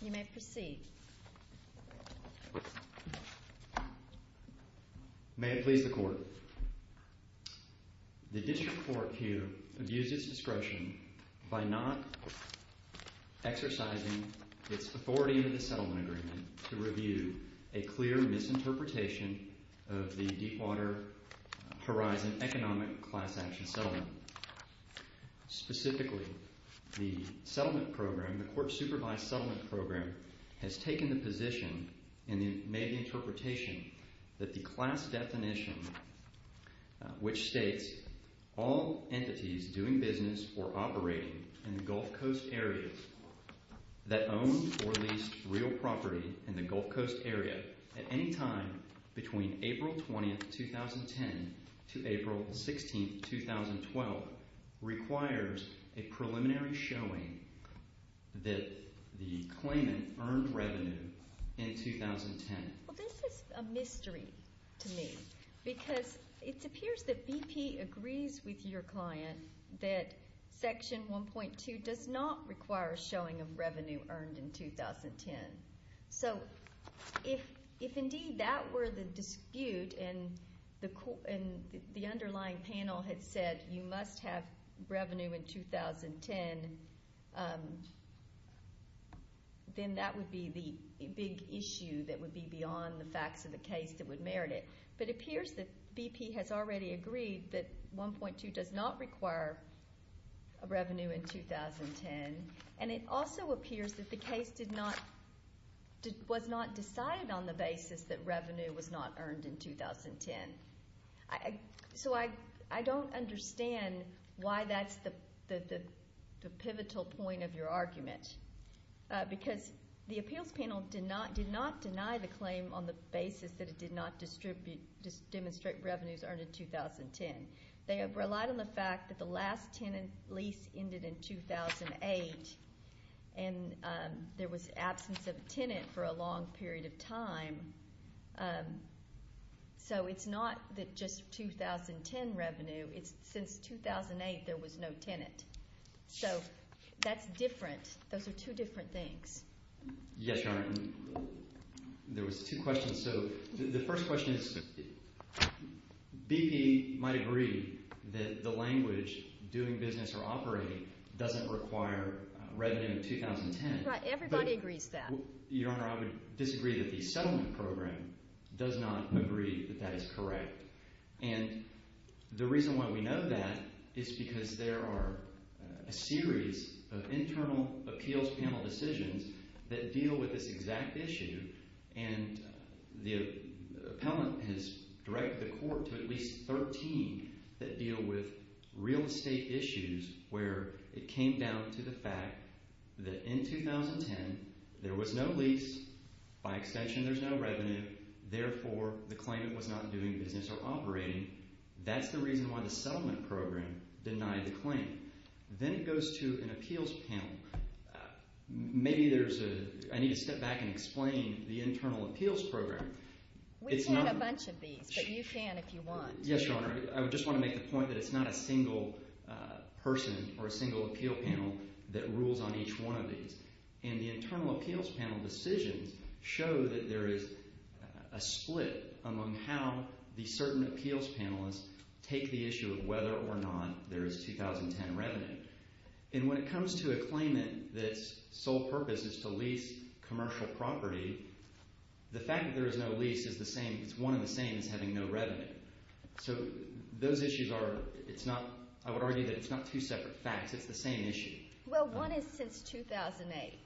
You may proceed. May it please the court. The district court here abused its discretion by not exercising its authority in the settlement agreement to review a clear misinterpretation of the Deepwater Horizon Economic Class Action Settlement. Specifically, the settlement program, the court supervised settlement program, was not has taken the position and made the interpretation that the class definition, which states, all entities doing business or operating in the Gulf Coast area that own or lease real property in the Gulf Coast area at any time between April 20, 2010 to April 16, 2012, requires a preliminary showing that the claimant earned revenue in 2010. Well, this is a mystery to me because it appears that BP agrees with your client that Section 1.2 does not require showing of revenue earned in 2010. So if indeed that were the dispute and the underlying panel had said you must have revenue in 2010, then that would be the big issue that would be beyond the facts of the case that would merit it. But it appears that BP has already agreed that 1.2 does not require a revenue in 2010. And it also appears that the case did not, was not decided on the basis that revenue was not earned in 2010. So I don't understand why that's the pivotal point of your argument. Because the appeals panel did not deny the claim on the basis that it did not demonstrate revenues earned in 2010. They have relied on the fact that the last tenant lease ended in 2008 and there was absence of a tenant for a long period of time. So it's not that just 2010 revenue. It's since 2008 there was no tenant. So that's different. Those are two different things. Yes, Your Honor. There was two questions. So the first question is BP might agree that the language doing business or operating doesn't require revenue in 2010. Everybody agrees that. Well, Your Honor, I would disagree that the settlement program does not agree that that is correct. And the reason why we know that is because there are a series of internal appeals panel decisions that deal with this exact issue. And the appellant has directed the court to at least 13 that deal with real estate issues where it came down to the fact that in 2010 there was no lease. By extension, there's no revenue. Therefore, the claimant was not doing business or operating. That's the reason why the settlement program denied the claim. Then it goes to an appeals panel. Maybe there's a – I need to step back and explain the internal appeals program. We've had a bunch of these, but you can if you want. Yes, Your Honor. I just want to make the point that it's not a single person or a single appeal panel that rules on each one of these. And the internal appeals panel decisions show that there is a split among how the certain appeals panelists take the issue of whether or not there is 2010 revenue. And when it comes to a claimant that its sole purpose is to lease commercial property, the fact that there is no lease is the same – it's one and the same as having no revenue. So those issues are – it's not – I would argue that it's not two separate facts. It's the same issue. Well, one is since 2008.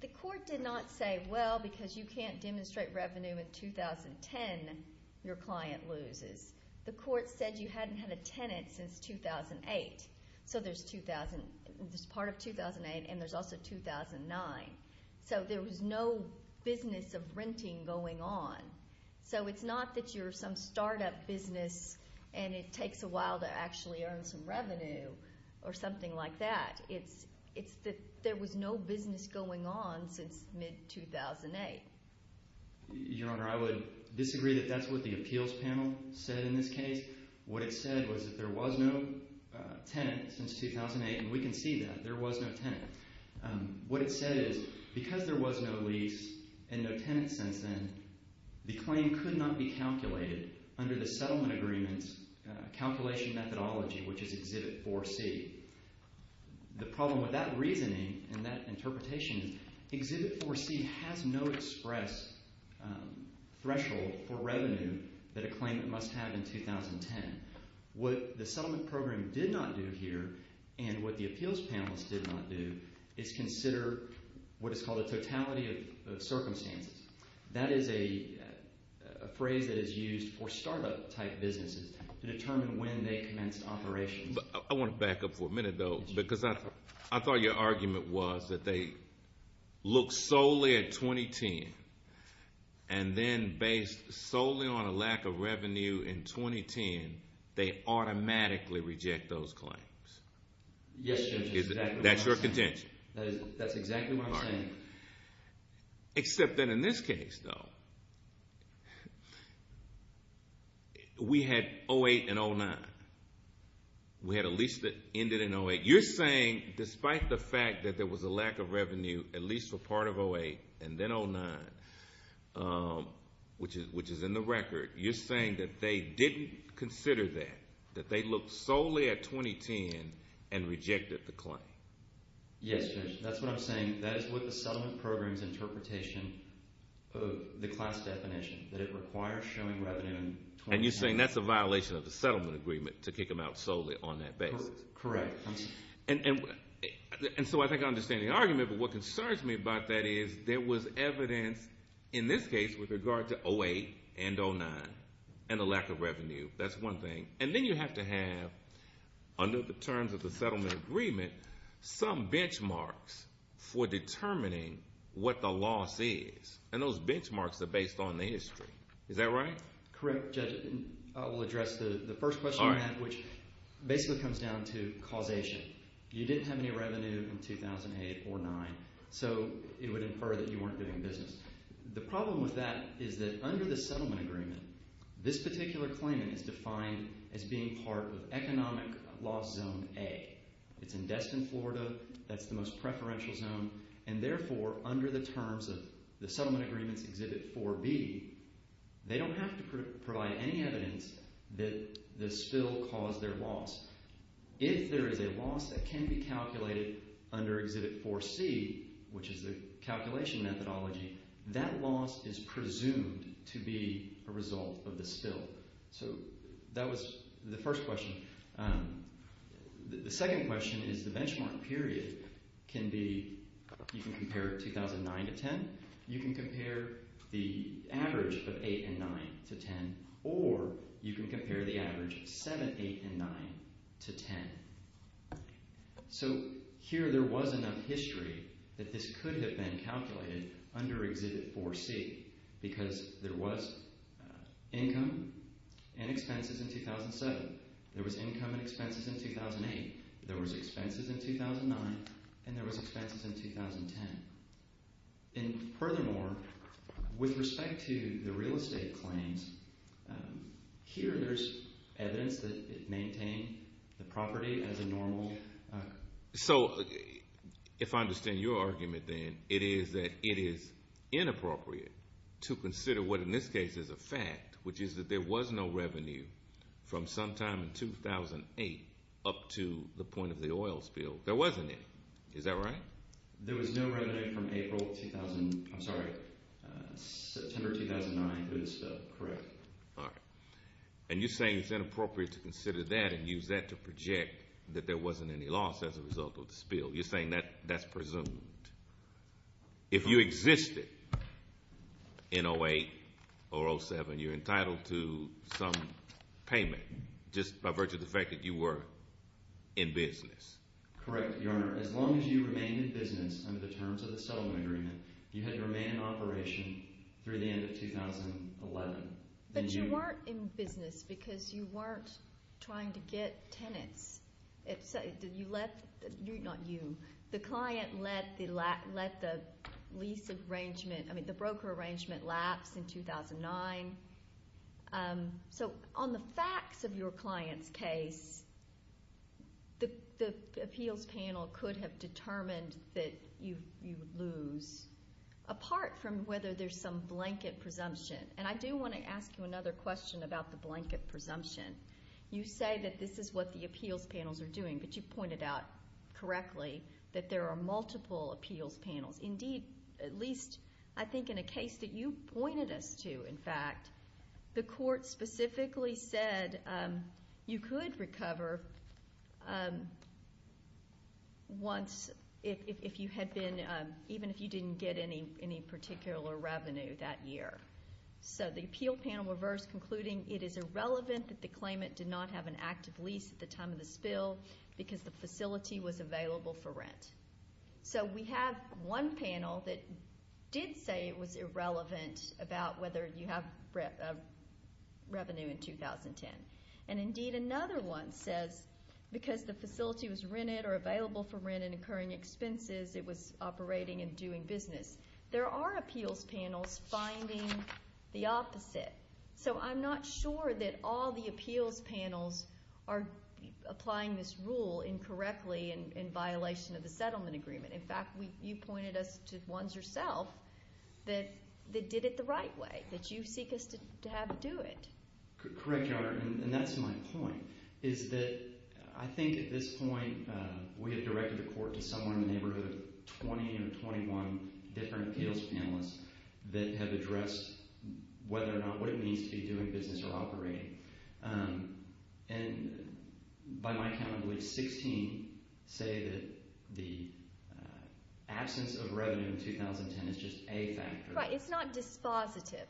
The court did not say, well, because you can't demonstrate revenue in 2010, your client loses. The court said you hadn't had a tenant since 2008. So there's – there's part of 2008 and there's also 2009. So there was no business of renting going on. So it's not that you're some startup business and it takes a while to actually earn some revenue or something like that. It's that there was no business going on since mid-2008. Your Honor, I would disagree that that's what the appeals panel said in this case. What it said was that there was no tenant since 2008, and we can see that. There was no tenant. What it said is because there was no lease and no tenant since then, the claim could not be calculated under the settlement agreement's calculation methodology, which is Exhibit 4C. The problem with that reasoning and that interpretation is Exhibit 4C has no express threshold for revenue that a claimant must have in 2010. What the settlement program did not do here and what the appeals panel did not do is consider what is called a totality of circumstances. That is a phrase that is used for startup-type businesses to determine when they commenced operations. I want to back up for a minute, though, because I thought your argument was that they look solely at 2010, and then based solely on a lack of revenue in 2010, they automatically reject those claims. Yes, Your Honor. That's your contention? Except that in this case, though, we had 2008 and 2009. We had a lease that ended in 2008. You're saying despite the fact that there was a lack of revenue at least for part of 2008 and then 2009, which is in the record, you're saying that they didn't consider that, that they looked solely at 2010 and rejected the claim. Yes, Judge. That's what I'm saying. That is what the settlement program's interpretation of the class definition, that it requires showing revenue in 2010. And you're saying that's a violation of the settlement agreement to kick them out solely on that basis? Correct. And so I think I understand the argument, but what concerns me about that is there was evidence in this case with regard to 2008 and 2009 and the lack of revenue. That's one thing. And then you have to have, under the terms of the settlement agreement, some benchmarks for determining what the loss is, and those benchmarks are based on the history. Is that right? Correct, Judge. I will address the first question on that, which basically comes down to causation. You didn't have any revenue in 2008 or 2009, so it would infer that you weren't doing business. The problem with that is that under the settlement agreement, this particular claimant is defined as being part of economic loss zone A. It's in Destin, Florida. That's the most preferential zone, and therefore, under the terms of the settlement agreement's Exhibit 4B, they don't have to provide any evidence that the spill caused their loss. If there is a loss that can be calculated under Exhibit 4C, which is the calculation methodology, that loss is presumed to be a result of the spill. So that was the first question. The second question is the benchmark period can be – you can compare 2009 to 2010. You can compare the average of 2008 and 2009 to 2010, or you can compare the average of 2007, 2008, and 2009 to 2010. So here there was enough history that this could have been calculated under Exhibit 4C because there was income and expenses in 2007. There was income and expenses in 2008. There was expenses in 2009, and there was expenses in 2010. And furthermore, with respect to the real estate claims, here there's evidence that it maintained the property as a normal – up to the point of the oil spill. There wasn't any. Is that right? There was no revenue from April – I'm sorry, September 2009 for the spill. Correct. All right. And you're saying it's inappropriate to consider that and use that to project that there wasn't any loss as a result of the spill. You're saying that that's presumed. If you existed in 2008 or 2007, you're entitled to some payment just by virtue of the fact that you were in business. Correct, Your Honor. As long as you remained in business under the terms of the settlement agreement, you had to remain in operation through the end of 2011. But you weren't in business because you weren't trying to get tenants. Did you let – not you. The client let the lease arrangement – I mean, the broker arrangement lapse in 2009. So on the facts of your client's case, the appeals panel could have determined that you would lose, apart from whether there's some blanket presumption. And I do want to ask you another question about the blanket presumption. You say that this is what the appeals panels are doing, but you pointed out correctly that there are multiple appeals panels. Indeed, at least I think in a case that you pointed us to, in fact, the court specifically said you could recover once if you had been – even if you didn't get any particular revenue that year. So the appeal panel reversed, concluding it is irrelevant that the claimant did not have an active lease at the time of the spill because the facility was available for rent. So we have one panel that did say it was irrelevant about whether you have revenue in 2010. And indeed, another one says because the facility was rented or available for rent and incurring expenses, it was operating and doing business. There are appeals panels finding the opposite. So I'm not sure that all the appeals panels are applying this rule incorrectly in violation of the settlement agreement. In fact, you pointed us to ones yourself that did it the right way, that you seek us to have do it. Correct, Your Honor. And that's my point is that I think at this point we have directed the court to somewhere in the neighborhood of 20 or 21 different appeals panelists that have addressed whether or not what it means to be doing business or operating. And by my count, I believe 16 say that the absence of revenue in 2010 is just a factor. Right. It's not dispositive.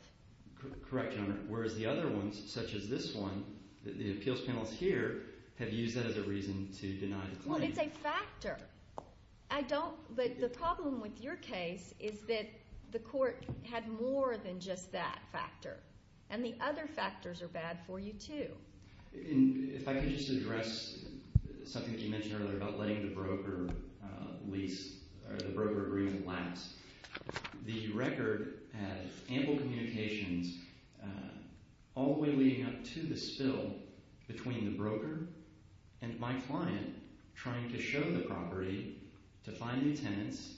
Correct, Your Honor. Whereas the other ones, such as this one, the appeals panels here have used that as a reason to deny the claim. Well, it's a factor. I don't, but the problem with your case is that the court had more than just that factor. And the other factors are bad for you too. If I could just address something that you mentioned earlier about letting the broker lease or the broker agreement lapse. The record had ample communications all the way leading up to the spill between the broker and my client trying to show the property to find new tenants.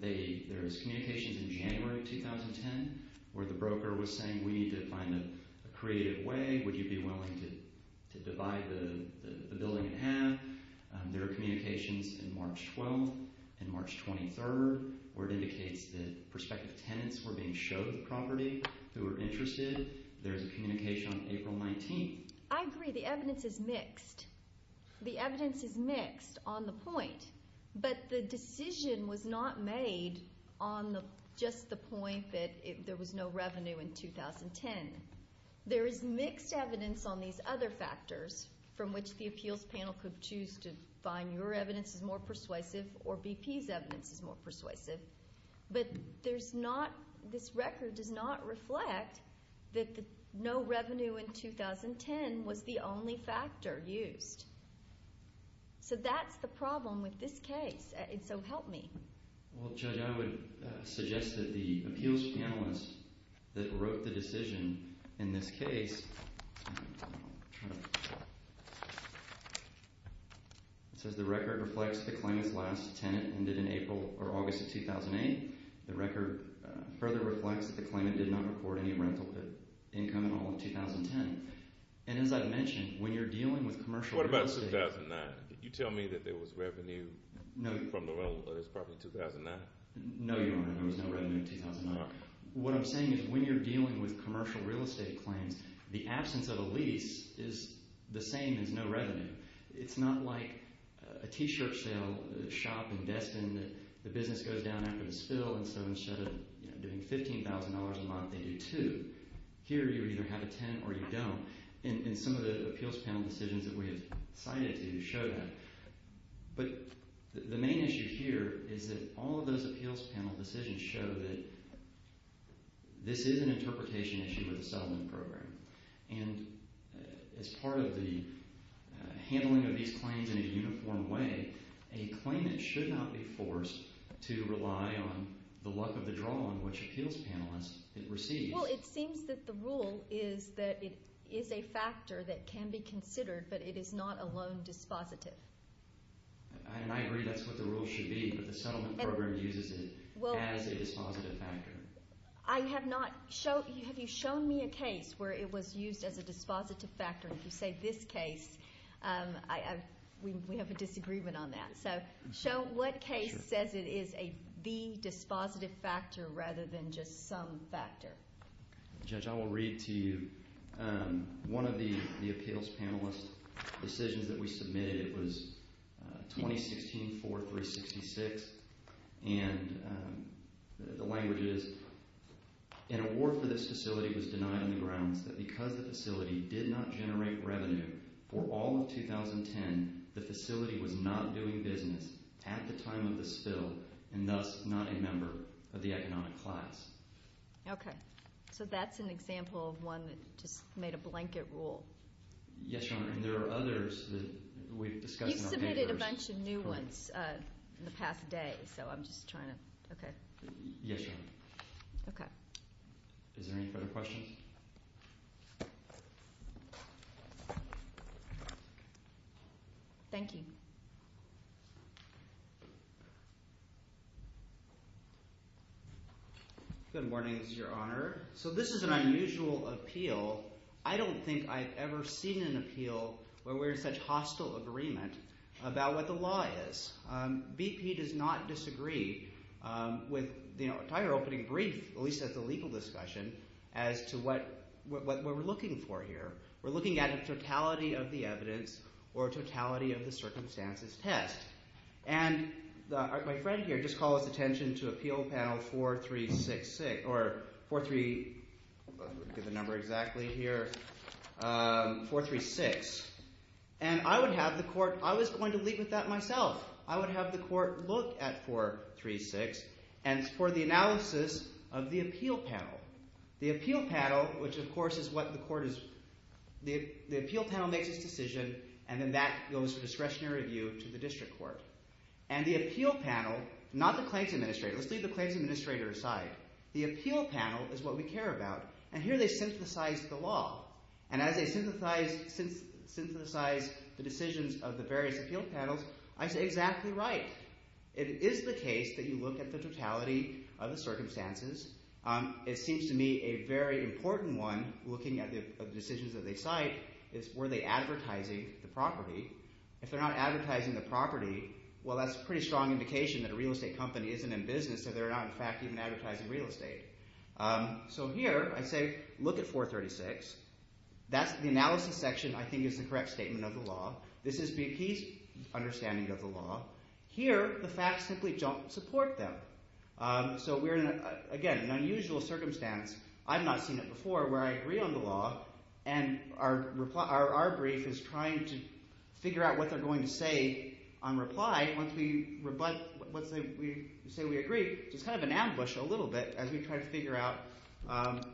There was communications in January of 2010 where the broker was saying we need to find a creative way. Would you be willing to divide the building in half? There are communications in March 12th and March 23rd where it indicates that prospective tenants were being showed the property who were interested. There's a communication on April 19th. I agree. The evidence is mixed. The evidence is mixed on the point. But the decision was not made on just the point that there was no revenue in 2010. There is mixed evidence on these other factors from which the appeals panel could choose to find your evidence is more persuasive or BP's evidence is more persuasive. But there's not, this record does not reflect that no revenue in 2010 was the only factor used. So that's the problem with this case. So help me. Well, Judge, I would suggest that the appeals panelist that wrote the decision in this case says the record reflects the claimant's last tenant ended in April or August of 2008. The record further reflects the claimant did not report any rental income in all of 2010. And as I've mentioned, when you're dealing with commercial real estate. What about 2009? Can you tell me that there was revenue from the rental of this property in 2009? No, Your Honor, there was no revenue in 2009. What I'm saying is when you're dealing with commercial real estate claims, the absence of a lease is the same as no revenue. It's not like a T-shirt sale, a shop in Destin that the business goes down after the spill and so instead of doing $15,000 a month, they do two. Here you either have a tenant or you don't. And some of the appeals panel decisions that we have cited to show that. But the main issue here is that all of those appeals panel decisions show that this is an interpretation issue with the settlement program. And as part of the handling of these claims in a uniform way, a claimant should not be forced to rely on the luck of the draw on which appeals panelist it receives. Well, it seems that the rule is that it is a factor that can be considered, but it is not a loan dispositive. And I agree that's what the rule should be, but the settlement program uses it as a dispositive factor. I have not – have you shown me a case where it was used as a dispositive factor? If you say this case, we have a disagreement on that. So show what case says it is the dispositive factor rather than just some factor. Judge, I will read to you one of the appeals panelist decisions that we submitted. It was 2016-4-366, and the language is, an award for this facility was denied on the grounds that because the facility did not generate revenue for all of 2010, the facility was not doing business at the time of the spill and thus not a member of the economic class. Okay. So that's an example of one that just made a blanket rule. Yes, Your Honor, and there are others that we've discussed in our papers. You've submitted a bunch of new ones in the past day, so I'm just trying to – okay. Yes, Your Honor. Okay. Is there any further questions? Thank you. Good morning, Your Honor. So this is an unusual appeal. I don't think I've ever seen an appeal where we're in such hostile agreement about what the law is. BP does not disagree with the entire opening brief, at least at the legal discussion, as to what we're looking for here. We're looking at a totality of the evidence or a totality of the circumstances test. And my friend here just called his attention to Appeal Panel 4366 – or 4 – let me get the number exactly here – 436. And I would have the court – I was going to leave with that myself. I would have the court look at 436 and for the analysis of the appeal panel. The appeal panel, which, of course, is what the court is – the appeal panel makes its decision, and then that goes for discretionary review to the district court. And the appeal panel – not the claims administrator. Let's leave the claims administrator aside. The appeal panel is what we care about, and here they synthesize the law. And as they synthesize the decisions of the various appeal panels, I say exactly right. It is the case that you look at the totality of the circumstances. It seems to me a very important one, looking at the decisions that they cite, is were they advertising the property? If they're not advertising the property, well, that's a pretty strong indication that a real estate company isn't in business. So they're not, in fact, even advertising real estate. So here I say look at 436. That's – the analysis section I think is the correct statement of the law. This is BP's understanding of the law. Here the facts simply don't support them. So we're in, again, an unusual circumstance. I've not seen it before where I agree on the law, and our brief is trying to figure out what they're going to say on reply once we say we agree. It's kind of an ambush a little bit as we try to figure out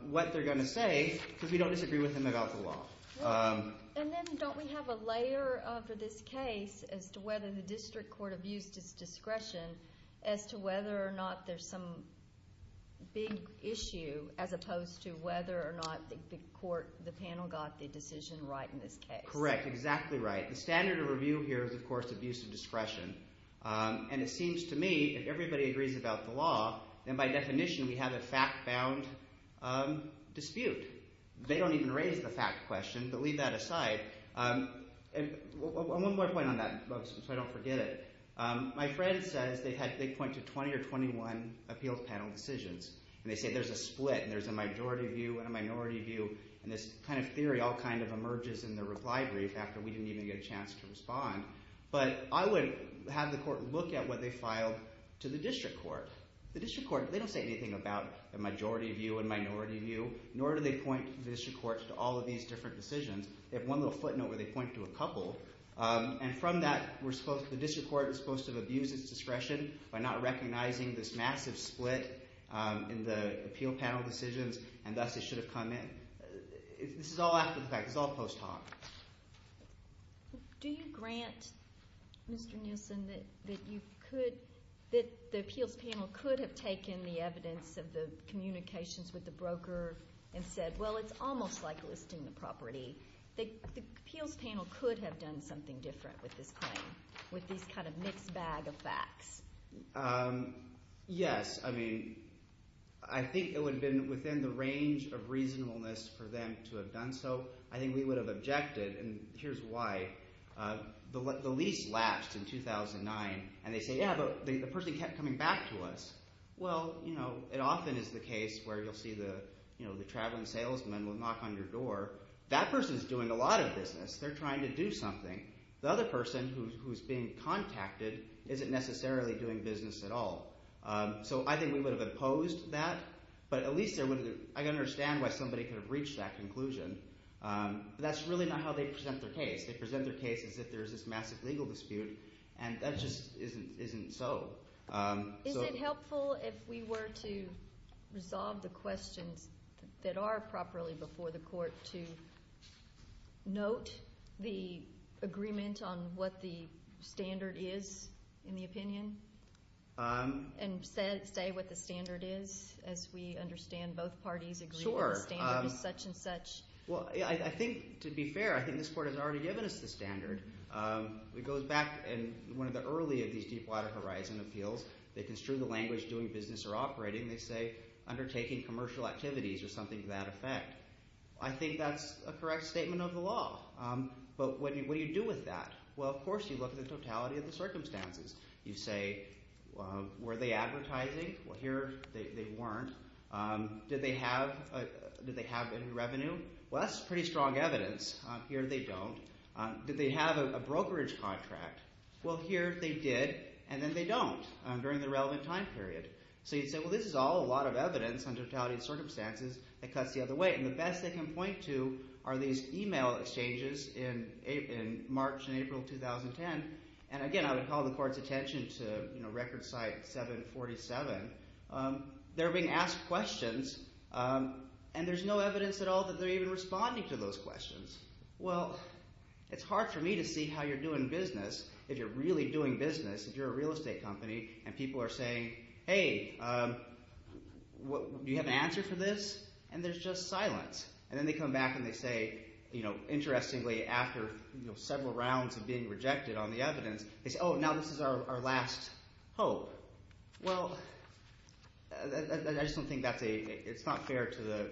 what they're going to say because we don't disagree with them about the law. And then don't we have a layer for this case as to whether the district court abused its discretion as to whether or not there's some big issue as opposed to whether or not the court – the panel got the decision right in this case? Correct, exactly right. The standard of review here is, of course, abuse of discretion. And it seems to me if everybody agrees about the law, then by definition we have a fact-bound dispute. They don't even raise the fact question, but leave that aside. And one more point on that so I don't forget it. My friend says they point to 20 or 21 appeals panel decisions, and they say there's a split and there's a majority view and a minority view. And this kind of theory all kind of emerges in the reply brief after we didn't even get a chance to respond. But I would have the court look at what they filed to the district court. The district court – they don't say anything about the majority view and minority view, nor do they point the district court to all of these different decisions. They have one little footnote where they point to a couple. And from that, we're supposed – the district court is supposed to have abused its discretion by not recognizing this massive split in the appeal panel decisions, and thus it should have come in. This is all after the fact. This is all post hoc. Do you grant, Mr. Nielsen, that you could – that the appeals panel could have taken the evidence of the communications with the broker and said, well, it's almost like listing the property? The appeals panel could have done something different with this claim, with these kind of mixed bag of facts. Yes. I mean I think it would have been within the range of reasonableness for them to have done so. I think we would have objected, and here's why. The lease latched in 2009, and they say, yeah, but the person kept coming back to us. Well, it often is the case where you'll see the traveling salesman will knock on your door. That person is doing a lot of business. They're trying to do something. The other person who is being contacted isn't necessarily doing business at all. So I think we would have opposed that. I understand why somebody could have reached that conclusion, but that's really not how they present their case. They present their case as if there's this massive legal dispute, and that just isn't so. Is it helpful if we were to resolve the questions that are properly before the court to note the agreement on what the standard is in the opinion? And say what the standard is as we understand both parties agree on the standards, such and such. Well, I think to be fair, I think this court has already given us the standard. It goes back in one of the early of these Deepwater Horizon appeals. They construe the language doing business or operating. They say undertaking commercial activities or something to that effect. I think that's a correct statement of the law, but what do you do with that? Well, of course you look at the totality of the circumstances. You say were they advertising? Well, here they weren't. Did they have any revenue? Well, that's pretty strong evidence. Here they don't. Did they have a brokerage contract? Well, here they did, and then they don't during the relevant time period. So you'd say, well, this is all a lot of evidence on totality of circumstances that cuts the other way. And the best they can point to are these email exchanges in March and April 2010. And again, I would call the court's attention to record site 747. They're being asked questions, and there's no evidence at all that they're even responding to those questions. Well, it's hard for me to see how you're doing business if you're really doing business, if you're a real estate company, and people are saying, hey, do you have an answer for this? And there's just silence. And then they come back and they say, interestingly, after several rounds of being rejected on the evidence, they say, oh, now this is our last hope. Well, I just don't think that's a – it's not fair to the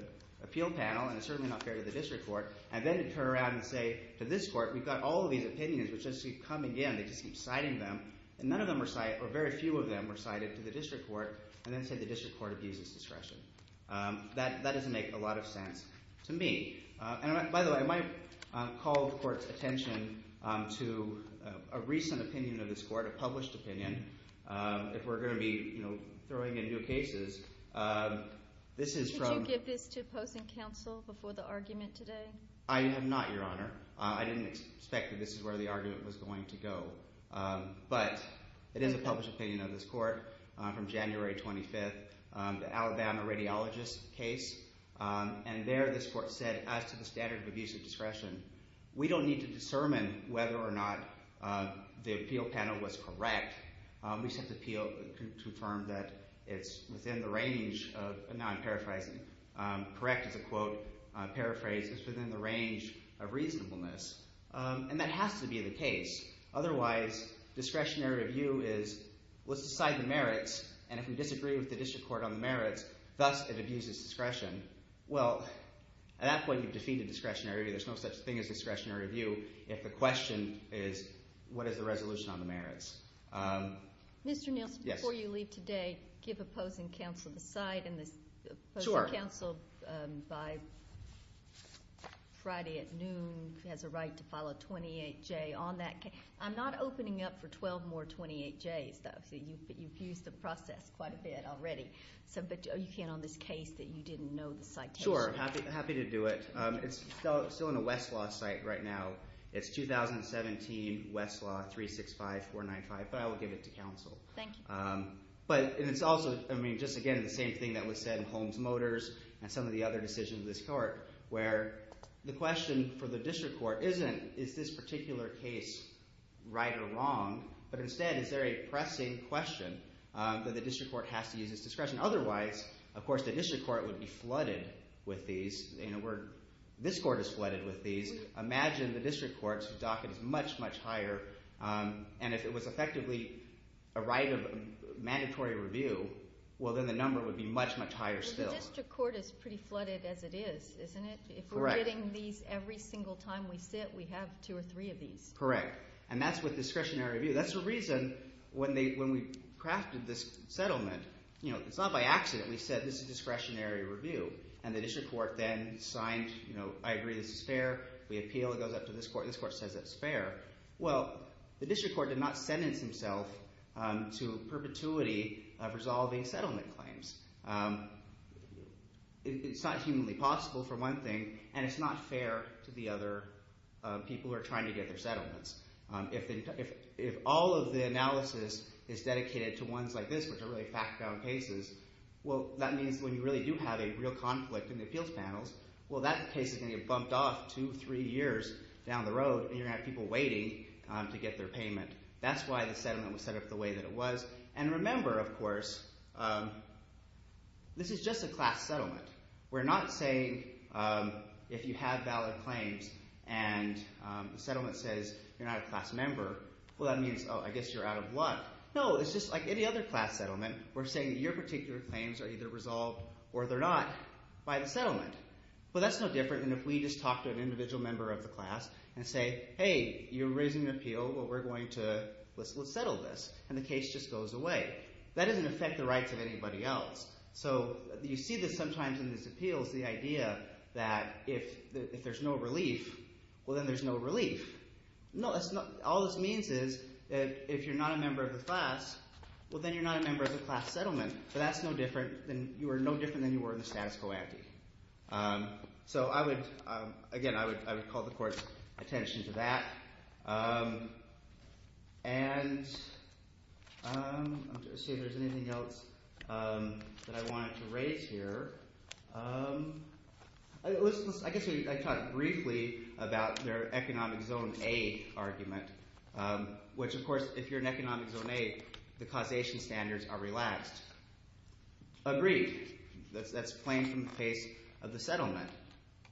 appeal panel, and it's certainly not fair to the district court. And then to turn around and say to this court, we've got all of these opinions which just keep coming in. They just keep citing them, and none of them were – or very few of them were cited to the district court, and then say the district court abuses discretion. That doesn't make a lot of sense to me. And, by the way, I might call the court's attention to a recent opinion of this court, a published opinion. If we're going to be throwing in new cases, this is from – Could you give this to opposing counsel before the argument today? I have not, Your Honor. I didn't expect that this is where the argument was going to go. But it is a published opinion of this court from January 25th, the Alabama radiologist case. And there this court said, as to the standard of abuse of discretion, we don't need to discern whether or not the appeal panel was correct. We just have to appeal to confirm that it's within the range of – now I'm paraphrasing. Correct is a quote. Paraphrase is within the range of reasonableness, and that has to be the case. Otherwise, discretionary review is let's decide the merits. And if we disagree with the district court on the merits, thus it abuses discretion. Well, at that point, you've defeated discretionary review. There's no such thing as discretionary review if the question is what is the resolution on the merits. Mr. Nielsen, before you leave today, give opposing counsel the side. Opposing counsel by Friday at noon has a right to file a 28-J on that case. I'm not opening up for 12 more 28-Js. You've used the process quite a bit already. But you can on this case that you didn't know the citation. Sure. Happy to do it. It's still on the Westlaw site right now. It's 2017 Westlaw 365495, but I will give it to counsel. Thank you. But it's also, I mean, just again the same thing that was said in Holmes Motors and some of the other decisions of this court, where the question for the district court isn't is this particular case right or wrong, but instead is there a pressing question that the district court has to use as discretion. Otherwise, of course, the district court would be flooded with these. In a word, this court is flooded with these. Imagine the district court's docket is much, much higher. And if it was effectively a right of mandatory review, well, then the number would be much, much higher still. Well, the district court is pretty flooded as it is, isn't it? Correct. If we're getting these every single time we sit, we have two or three of these. Correct. And that's with discretionary review. That's the reason when we crafted this settlement. It's not by accident we said this is discretionary review. And the district court then signed, I agree this is fair. We appeal. It goes up to this court. This court says it's fair. Well, the district court did not sentence himself to perpetuity of resolving settlement claims. It's not humanly possible for one thing, and it's not fair to the other people who are trying to get their settlements. If all of the analysis is dedicated to ones like this, which are really fact-bound cases, well, that means when you really do have a real conflict in the appeals panels, well, that case is going to get bumped off two, three years down the road, and you're going to have people waiting to get their payment. That's why the settlement was set up the way that it was. And remember, of course, this is just a class settlement. We're not saying if you have valid claims and the settlement says you're not a class member, well, that means, oh, I guess you're out of luck. No, it's just like any other class settlement. We're saying that your particular claims are either resolved or they're not by the settlement. Well, that's no different than if we just talk to an individual member of the class and say, hey, you're raising an appeal, but we're going to settle this, and the case just goes away. That doesn't affect the rights of anybody else. So you see this sometimes in these appeals, the idea that if there's no relief, well, then there's no relief. No, that's not – all this means is if you're not a member of the class, well, then you're not a member of the class settlement, but that's no different – you are no different than you were in the status quo ante. So I would – again, I would call the court's attention to that. And let's see if there's anything else that I wanted to raise here. I guess I talked briefly about their economic zone A argument, which, of course, if you're in economic zone A, the causation standards are relaxed. Agreed. That's plain from the case of the settlement.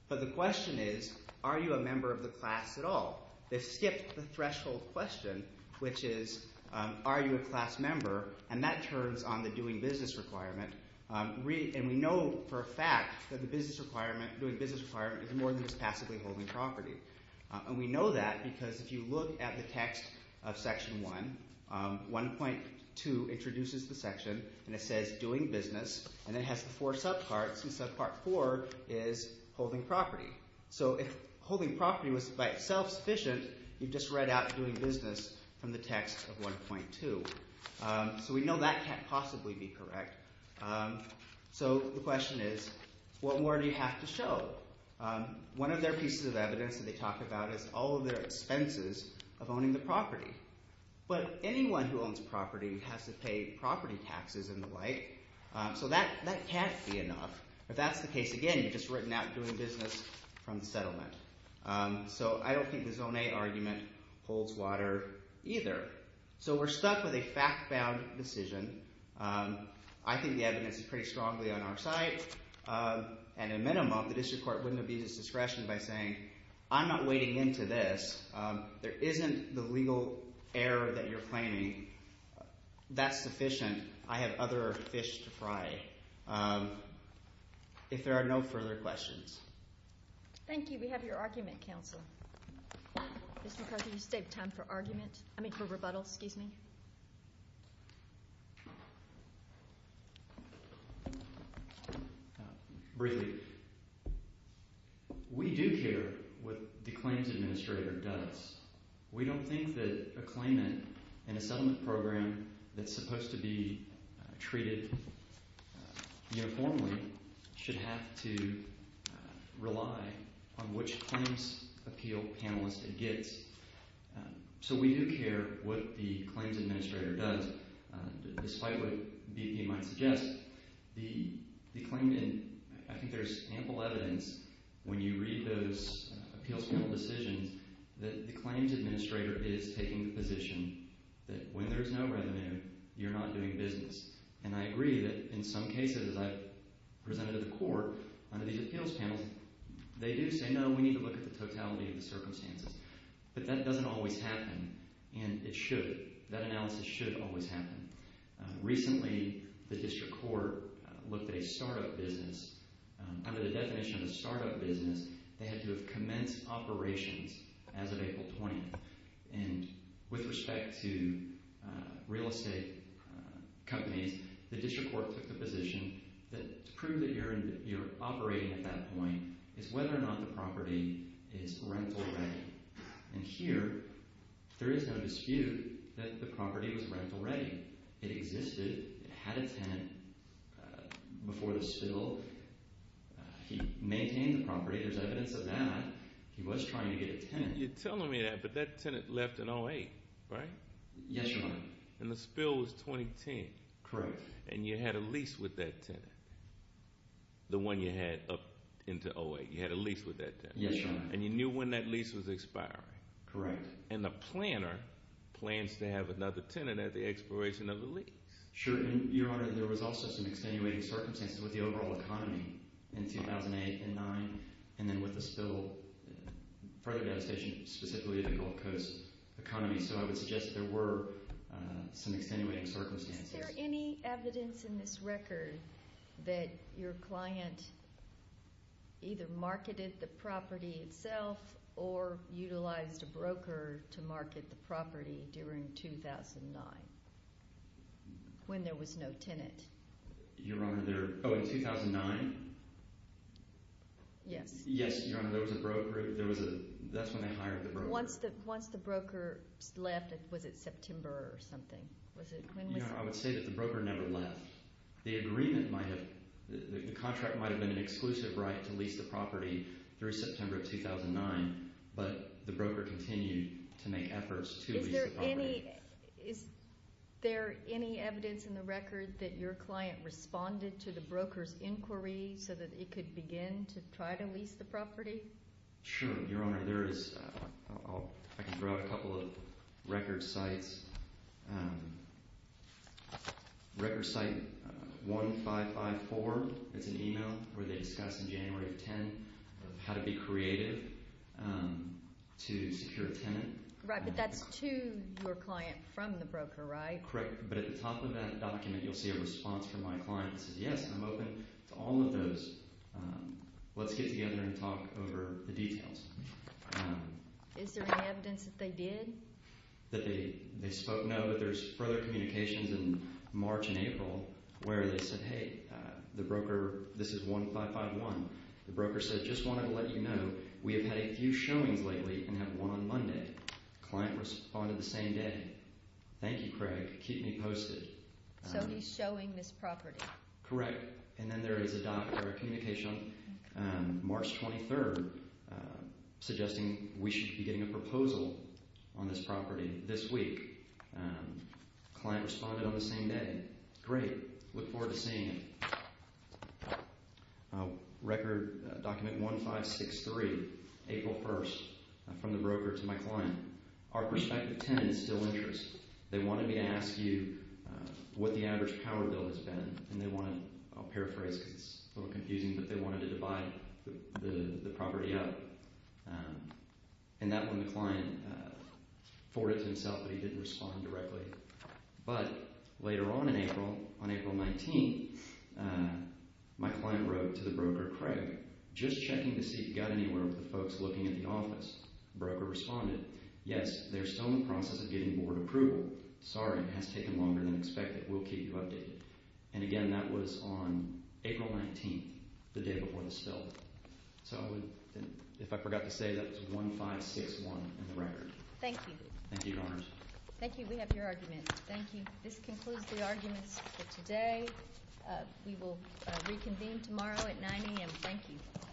But the question is are you a member of the class at all? They skipped the threshold question, which is are you a class member, and that turns on the doing business requirement. And we know for a fact that the business requirement – doing business requirement is more than just passively holding property. And we know that because if you look at the text of section 1, 1.2 introduces the section and it says doing business and it has the four subparts, and subpart 4 is holding property. So if holding property was by itself sufficient, you just read out doing business from the text of 1.2. So we know that can't possibly be correct. So the question is what more do you have to show? One of their pieces of evidence that they talk about is all of their expenses of owning the property. But anyone who owns property has to pay property taxes and the like, so that can't be enough. If that's the case, again, you just written out doing business from the settlement. So I don't think the zone A argument holds water either. So we're stuck with a fact-bound decision. I think the evidence is pretty strongly on our side. And a minimum, the district court wouldn't abuse its discretion by saying I'm not wading into this. There isn't the legal error that you're claiming. That's sufficient. I have other fish to fry if there are no further questions. Thank you. We have your argument, counsel. Mr. McCarthy, you saved time for argument. I mean for rebuttal. Excuse me. Briefly, we do care what the claims administrator does. We don't think that a claimant in a settlement program that's supposed to be treated uniformly should have to rely on which claims appeal panelist it gets. So we do care what the claims administrator does. Despite what BP might suggest, the claimant, I think there's ample evidence when you read those appeals panel decisions that the claims administrator is taking the position that when there's no revenue, you're not doing business. And I agree that in some cases, as I presented to the court under these appeals panels, they do say no, we need to look at the totality of the circumstances. But that doesn't always happen. And it should. That analysis should always happen. Recently, the district court looked at a startup business. Under the definition of a startup business, they had to have commenced operations as of April 20th. And with respect to real estate companies, the district court took the position that to prove that you're operating at that point is whether or not the property is rental ready. And here, there is no dispute that the property was rental ready. It existed. It had a tenant before the spill. He maintained the property. There's evidence of that. He was trying to get a tenant. You're telling me that, but that tenant left in 08, right? Yes, Your Honor. And the spill was 2010. Correct. And you had a lease with that tenant, the one you had up into 08. You had a lease with that tenant. Yes, Your Honor. And you knew when that lease was expiring. Correct. And the planner plans to have another tenant at the expiration of the lease. Sure. And, Your Honor, there was also some extenuating circumstances with the overall economy in 2008 and 2009, and then with the spill, further devastation, specifically the Gulf Coast economy. So I would suggest that there were some extenuating circumstances. Is there any evidence in this record that your client either marketed the property itself or utilized a broker to market the property during 2009 when there was no tenant? Your Honor, there – oh, in 2009? Yes. Yes, Your Honor, there was a broker. There was a – that's when they hired the broker. Once the broker left, was it September or something? Was it – when was – Your Honor, I would say that the broker never left. The agreement might have – the contract might have been an exclusive right to lease the property through September of 2009, but the broker continued to make efforts to lease the property. Is there any – is there any evidence in the record that your client responded to the broker's inquiry so that it could begin to try to lease the property? Sure, Your Honor. There is – I can throw out a couple of record sites. Record site 1554 is an email where they discuss in January of 2010 how to be creative to secure a tenant. Right, but that's to your client from the broker, right? Correct. But at the top of that document, you'll see a response from my client that says, yes, I'm open to all of those. Let's get together and talk over the details. Is there any evidence that they did? That they spoke? No, but there's further communications in March and April where they said, hey, the broker – this is 1551. The broker said, just wanted to let you know we have had a few showings lately and have one on Monday. Client responded the same day. Thank you, Craig. Keep me posted. So he's showing this property. Correct. And then there is a doc or a communication on March 23rd suggesting we should be getting a proposal on this property this week. Client responded on the same day. Great. Look forward to seeing it. Record document 1563, April 1st, from the broker to my client. Our prospective tenant is still interest. They wanted me to ask you what the average power bill has been. And they wanted – I'll paraphrase because it's a little confusing, but they wanted to divide the property up. And that one the client forwarded to himself, but he didn't respond directly. But later on in April, on April 19th, my client wrote to the broker, Craig, just checking to see if he got anywhere with the folks looking at the office. Broker responded. Yes, they're still in the process of getting board approval. Sorry, it has taken longer than expected. We'll keep you updated. And, again, that was on April 19th, the day before the spill. So if I forgot to say, that's 1561 in the record. Thank you. Thank you, Your Honors. Thank you. We have your argument. Thank you. This concludes the arguments for today. We will reconvene tomorrow at 9 a.m. Thank you.